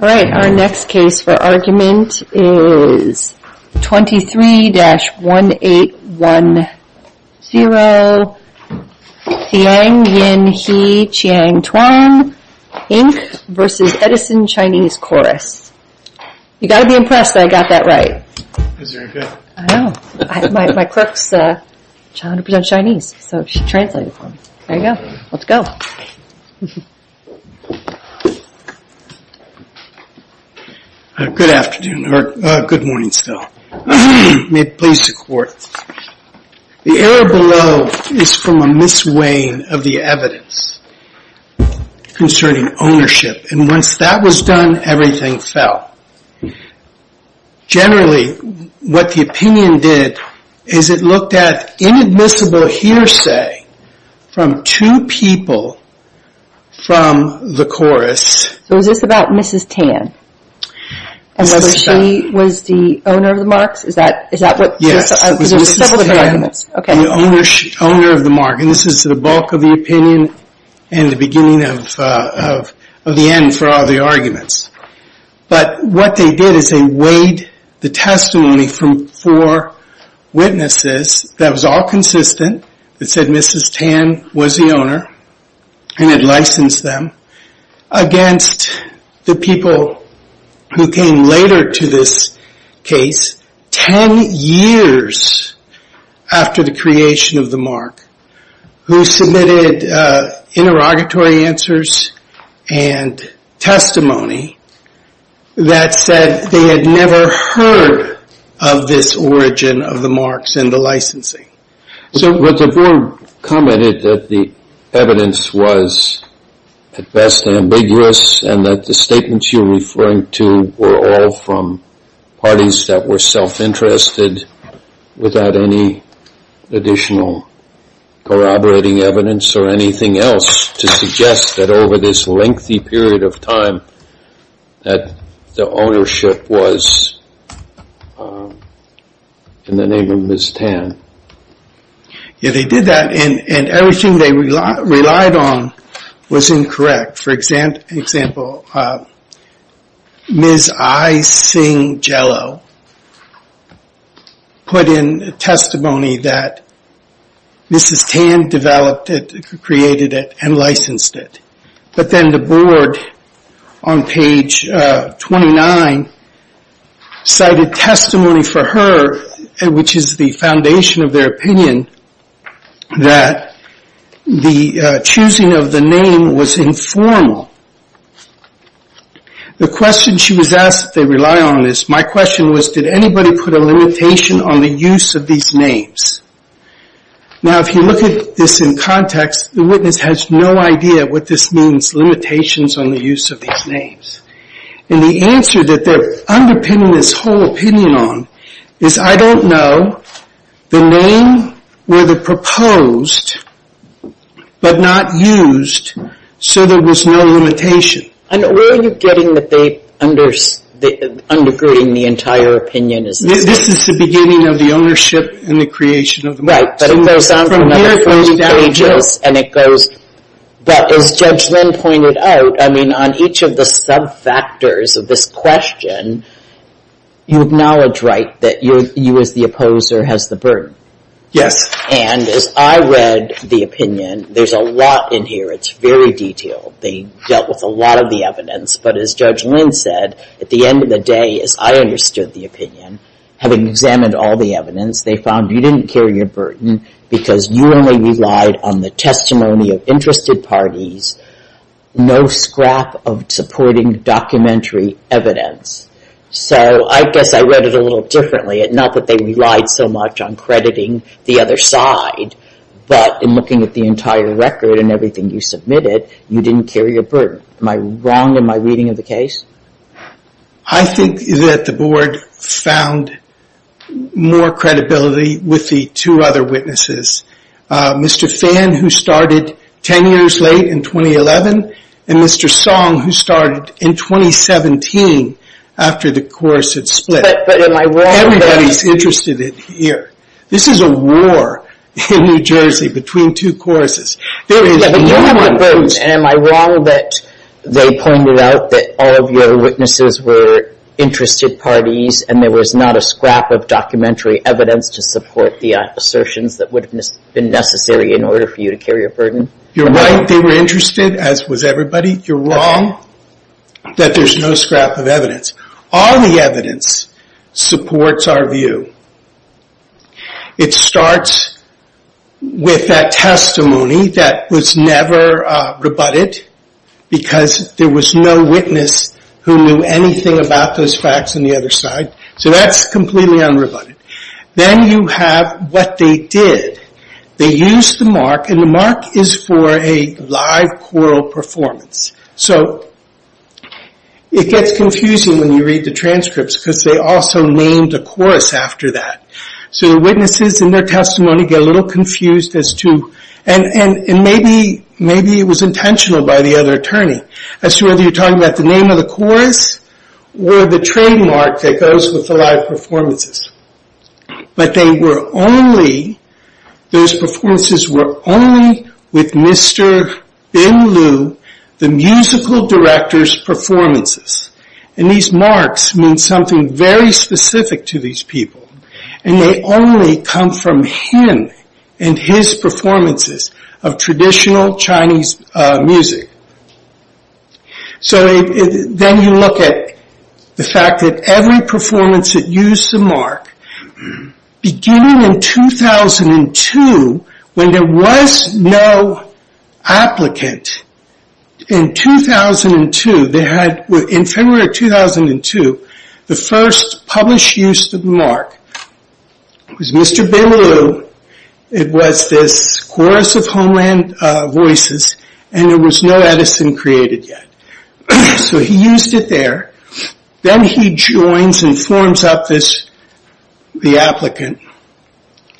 All right, our next case for argument is 23-1810 Xiang Yin He Chang Tuan Inc. v. Edison Chinese Chorus. You've got to be impressed that I got that right. It was very good. I know. My clerk is 100% Chinese, so she translated for me. There you go. Let's go. Good afternoon, or good morning still. May it please the Court. The error below is from a mis-weighing of the evidence concerning ownership, and once that was done, everything fell. Generally, what the opinion did is it looked at inadmissible hearsay from two people from the chorus. So is this about Mrs. Tan? And so she was the owner of the marks? Yes, it was Mrs. Tan, the owner of the mark. And this is the bulk of the opinion and the beginning of the end for all the arguments. But what they did is they weighed the testimony from four witnesses that was all consistent, that said Mrs. Tan was the owner, and had licensed them, against the people who came later to this case, 10 years after the creation of the mark, who submitted interrogatory answers and testimony that said they had never heard of this origin of the marks and the licensing. But the board commented that the evidence was, at best, ambiguous, and that the statements you're referring to were all from parties that were self-interested without any additional corroborating evidence or anything else to suggest that over this lengthy period of time that the ownership was in the name of Mrs. Tan. Yeah, they did that, and everything they relied on was incorrect. For example, Ms. I. Singh Jello put in testimony that Mrs. Tan developed it, created it, and licensed it. But then the board, on page 29, cited testimony for her, which is the foundation of their opinion, that the choosing of the name was informal. The question she was asked, if they rely on this, my question was, did anybody put a limitation on the use of these names? Now, if you look at this in context, the witness has no idea what this means, limitations on the use of these names. And the answer that they're underpinning this whole opinion on is, I don't know, the name were they proposed but not used, so there was no limitation. And where are you getting that they're undergirding the entire opinion? This is the beginning of the ownership and the creation of the name. Right, but it goes on for another 40 pages, and it goes, but as Judge Lynn pointed out, I mean, on each of the sub-factors of this question, you acknowledge, right, that you as the opposer has the burden. Yes. And as I read the opinion, there's a lot in here. It's very detailed. They dealt with a lot of the evidence. But as Judge Lynn said, at the end of the day, as I understood the opinion, having examined all the evidence, they found you didn't carry a burden because you only relied on the testimony of interested parties, no scrap of supporting documentary evidence. So I guess I read it a little differently. Not that they relied so much on crediting the other side, but in looking at the entire record and everything you submitted, you didn't carry a burden. Am I wrong in my reading of the case? I think that the Board found more credibility with the two other witnesses. Mr. Phan, who started 10 years late in 2011, and Mr. Song, who started in 2017 after the course had split. But am I wrong? Everybody's interested in here. This is a war in New Jersey between two courses. There is no more burden. Am I wrong that they pointed out that all of your witnesses were interested parties and there was not a scrap of documentary evidence to support the assertions that would have been necessary in order for you to carry a burden? You're right, they were interested, as was everybody. You're wrong that there's no scrap of evidence. All the evidence supports our view. It starts with that testimony that was never rebutted because there was no witness who knew anything about those facts on the other side. So that's completely unrebutted. Then you have what they did. They used the mark, and the mark is for a live choral performance. So it gets confusing when you read the transcripts because they also named a chorus after that. So the witnesses in their testimony get a little confused as to... And maybe it was intentional by the other attorney as to whether you're talking about the name of the chorus or the trademark that goes with the live performances. But those performances were only with Mr. Bin Liu, the musical director's performances. And these marks mean something very specific to these people. And they only come from him and his performances of traditional Chinese music. So then you look at the fact that every performance that used the mark, beginning in 2002, when there was no applicant, in February of 2002, the first published use of the mark was Mr. Bin Liu. It was this chorus of homeland voices, and there was no Edison created yet. So he used it there. Then he joins and forms up the applicant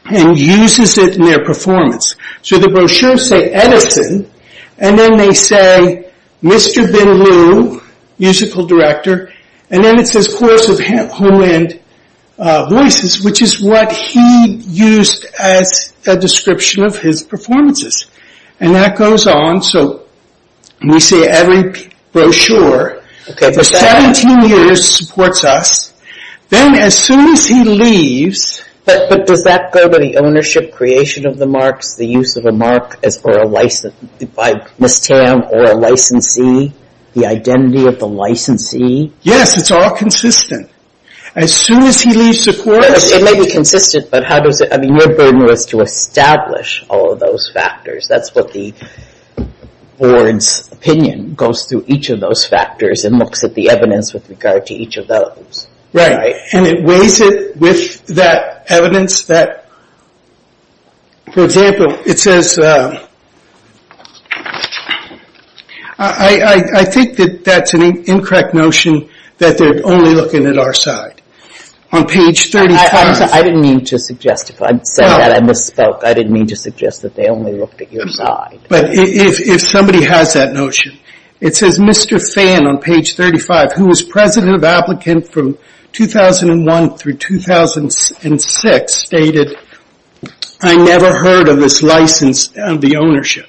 and uses it in their performance. So the brochures say Edison, and then they say Mr. Bin Liu, musical director, and then it says chorus of homeland voices, which is what he used as a description of his performances. And that goes on. So we see every brochure for 17 years supports us. Then as soon as he leaves... But does that go to the ownership creation of the marks, the use of a mark by Ms. Tam or a licensee, the identity of the licensee? Yes, it's all consistent. As soon as he leaves the chorus... It may be consistent, but how does it... And your burden was to establish all of those factors. That's what the board's opinion goes through, each of those factors, and looks at the evidence with regard to each of those. Right, and it weighs it with that evidence that... For example, it says... I think that that's an incorrect notion that they're only looking at our side. On page 35... I'm sorry. I didn't mean to suggest... I said that. I misspoke. I didn't mean to suggest that they only looked at your side. But if somebody has that notion, it says Mr. Fan on page 35, who was president of applicant from 2001 through 2006, stated, I never heard of this license and the ownership.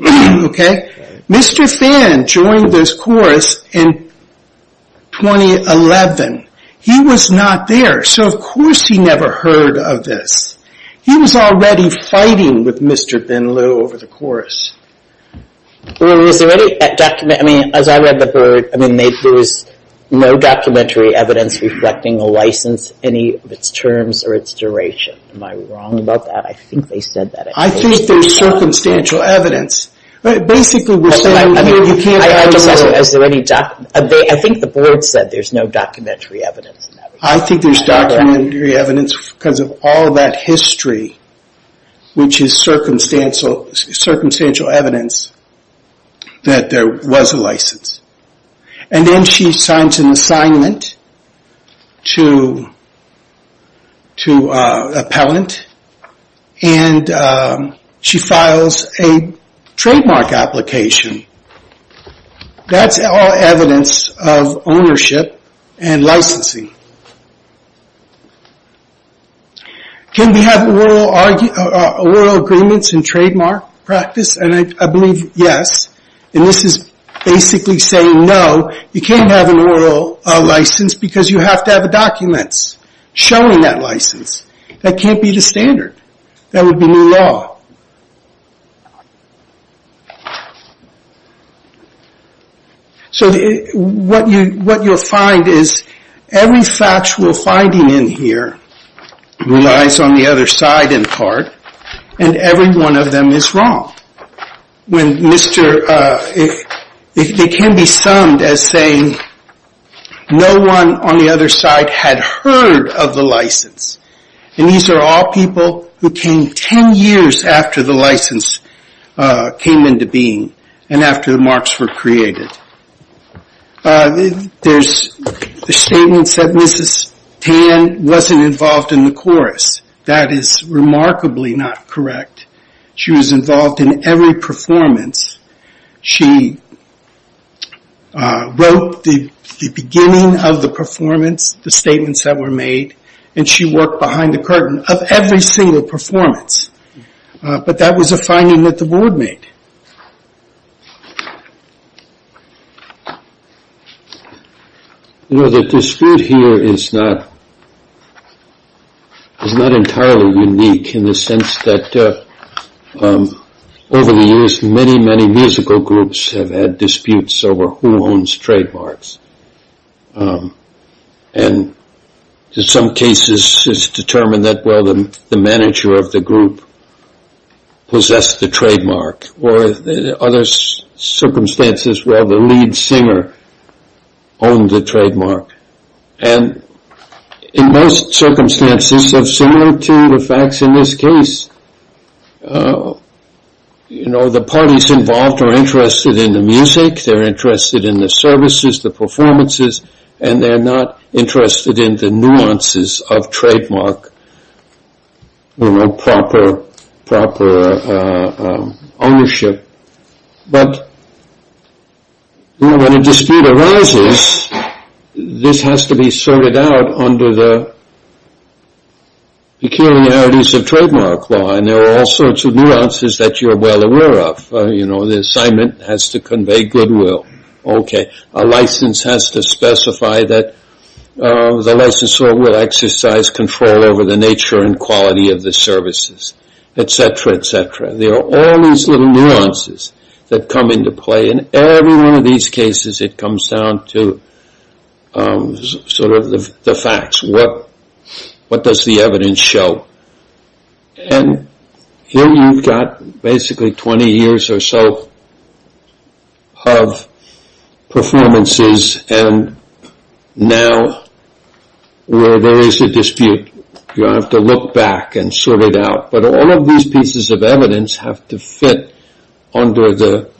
Okay? Mr. Fan joined this chorus in 2011. He was not there. So, of course, he never heard of this. He was already fighting with Mr. Bin Loo over the chorus. Well, is there any document... I mean, as I read the board, I mean, there was no documentary evidence reflecting the license, any of its terms or its duration. Am I wrong about that? I think they said that. I think there's circumstantial evidence. Basically, we're saying here you can't... I think the board said there's no documentary evidence. I think there's documentary evidence because of all that history, which is circumstantial evidence that there was a license. And then she signs an assignment to an appellant, and she files a trademark application. That's all evidence of ownership and licensing. Can we have oral agreements and trademark practice? And I believe yes. And this is basically saying no, you can't have an oral license because you have to have documents showing that license. That can't be the standard. That would be new law. So what you'll find is every factual finding in here relies on the other side in part, and every one of them is wrong. They can be summed as saying no one on the other side had heard of the license. And these are all people who came 10 years after the license came into being and after the marks were created. There's statements that Mrs. Tan wasn't involved in the chorus. That is remarkably not correct. She was involved in every performance. She wrote the beginning of the performance, the statements that were made, and she worked behind the curtain of every single performance. But that was a finding that the board made. The dispute here is not entirely unique in the sense that over the years many, many musical groups have had disputes over who owns trademarks. And in some cases it's determined that the manager of the group possessed the trademark. Or in other circumstances, the lead singer owned the trademark. And in most circumstances, similar to the facts in this case, the parties involved are interested in the music, they're interested in the services, the performances, and they're not interested in the nuances of trademark proper ownership. But when a dispute arises, this has to be sorted out under the peculiarities of trademark law. And there are all sorts of nuances that you're well aware of. You know, the assignment has to convey goodwill. Okay, a license has to specify that the licensor will exercise control over the nature and quality of the services, et cetera, et cetera. There are all these little nuances that come into play. In every one of these cases it comes down to sort of the facts. What does the evidence show? And here you've got basically 20 years or so of performances, and now where there is a dispute, you have to look back and sort it out. But all of these pieces of evidence have to fit under the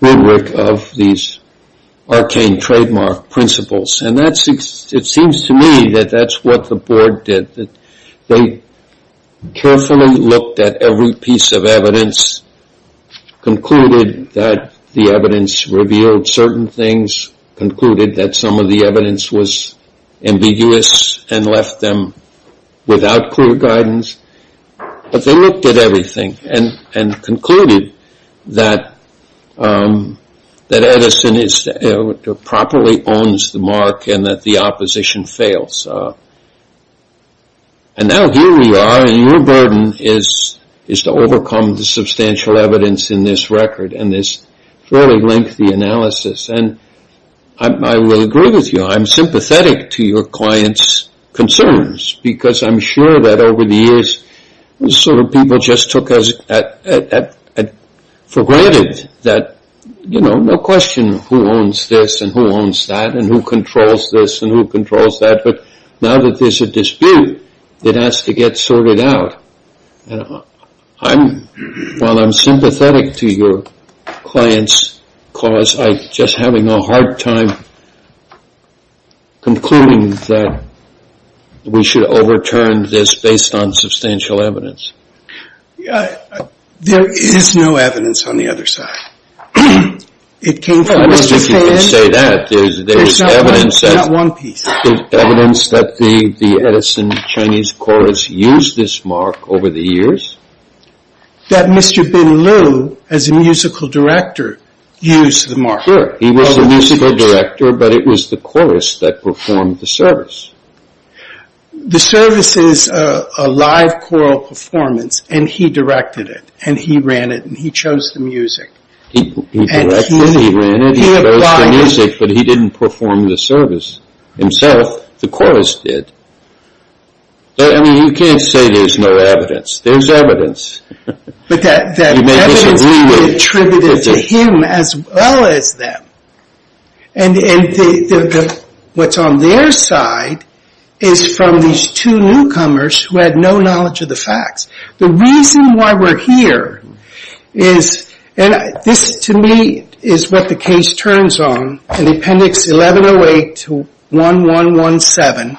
rubric of these arcane trademark principles. And it seems to me that that's what the board did. They carefully looked at every piece of evidence, concluded that the evidence revealed certain things, concluded that some of the evidence was ambiguous, and left them without clear guidance. But they looked at everything and concluded that Edison properly owns the mark and that the opposition fails. And now here we are, and your burden is to overcome the substantial evidence in this record and this fairly lengthy analysis. And I will agree with you. I'm sympathetic to your clients' concerns because I'm sure that over the years sort of people just took for granted that, you know, there's no question who owns this and who owns that and who controls this and who controls that. But now that there's a dispute that has to get sorted out, while I'm sympathetic to your clients' cause, I'm just having a hard time concluding that we should overturn this based on substantial evidence. There is no evidence on the other side. I don't know if you can say that. There's evidence that the Edison Chinese Chorus used this mark over the years. That Mr. Bin Liu, as a musical director, used the mark. Sure, he was the musical director, but it was the chorus that performed the service. The service is a live choral performance, and he directed it, and he ran it, and he chose the music. He directed it, he ran it, he chose the music, but he didn't perform the service himself. The chorus did. I mean, you can't say there's no evidence. There's evidence. But that evidence could be attributed to him as well as them. And what's on their side is from these two newcomers who had no knowledge of the facts. The reason why we're here is, and this to me is what the case turns on, in Appendix 1108 to 1117.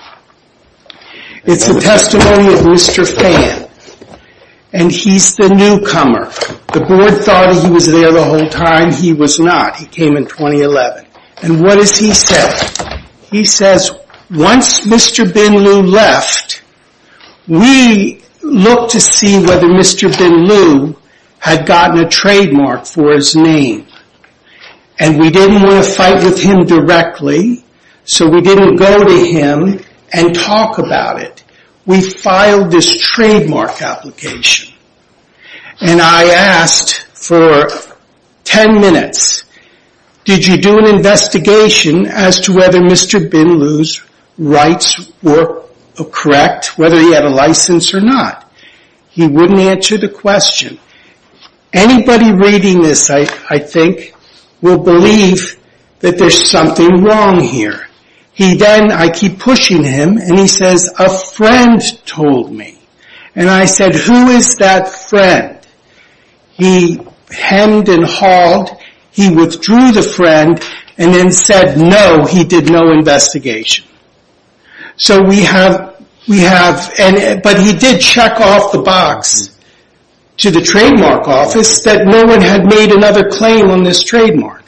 It's a testimony of Mr. Fan, and he's the newcomer. The board thought he was there the whole time. He was not. He came in 2011. And what does he say? He says, once Mr. Bin Lieu left, we looked to see whether Mr. Bin Lieu had gotten a trademark for his name, and we didn't want to fight with him directly, so we didn't go to him and talk about it. We filed this trademark application, and I asked for 10 minutes, did you do an investigation as to whether Mr. Bin Lieu's rights were correct, whether he had a license or not? He wouldn't answer the question. Anybody reading this, I think, will believe that there's something wrong here. He then, I keep pushing him, and he says, a friend told me. And I said, who is that friend? He hemmed and hauled, he withdrew the friend, and then said, no, he did no investigation. So we have, but he did check off the box to the trademark office that no one had made another claim on this trademark.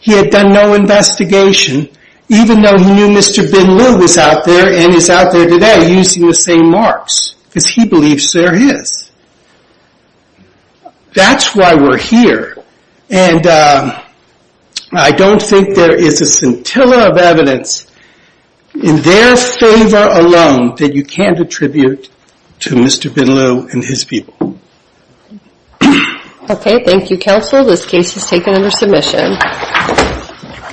He had done no investigation, even though he knew Mr. Bin Lieu was out there and is out there today using the same marks, because he believes they're his. That's why we're here, and I don't think there is a scintilla of evidence in their favor alone that you can't attribute to Mr. Bin Lieu and his people. Okay, thank you, counsel. This case is taken under submission.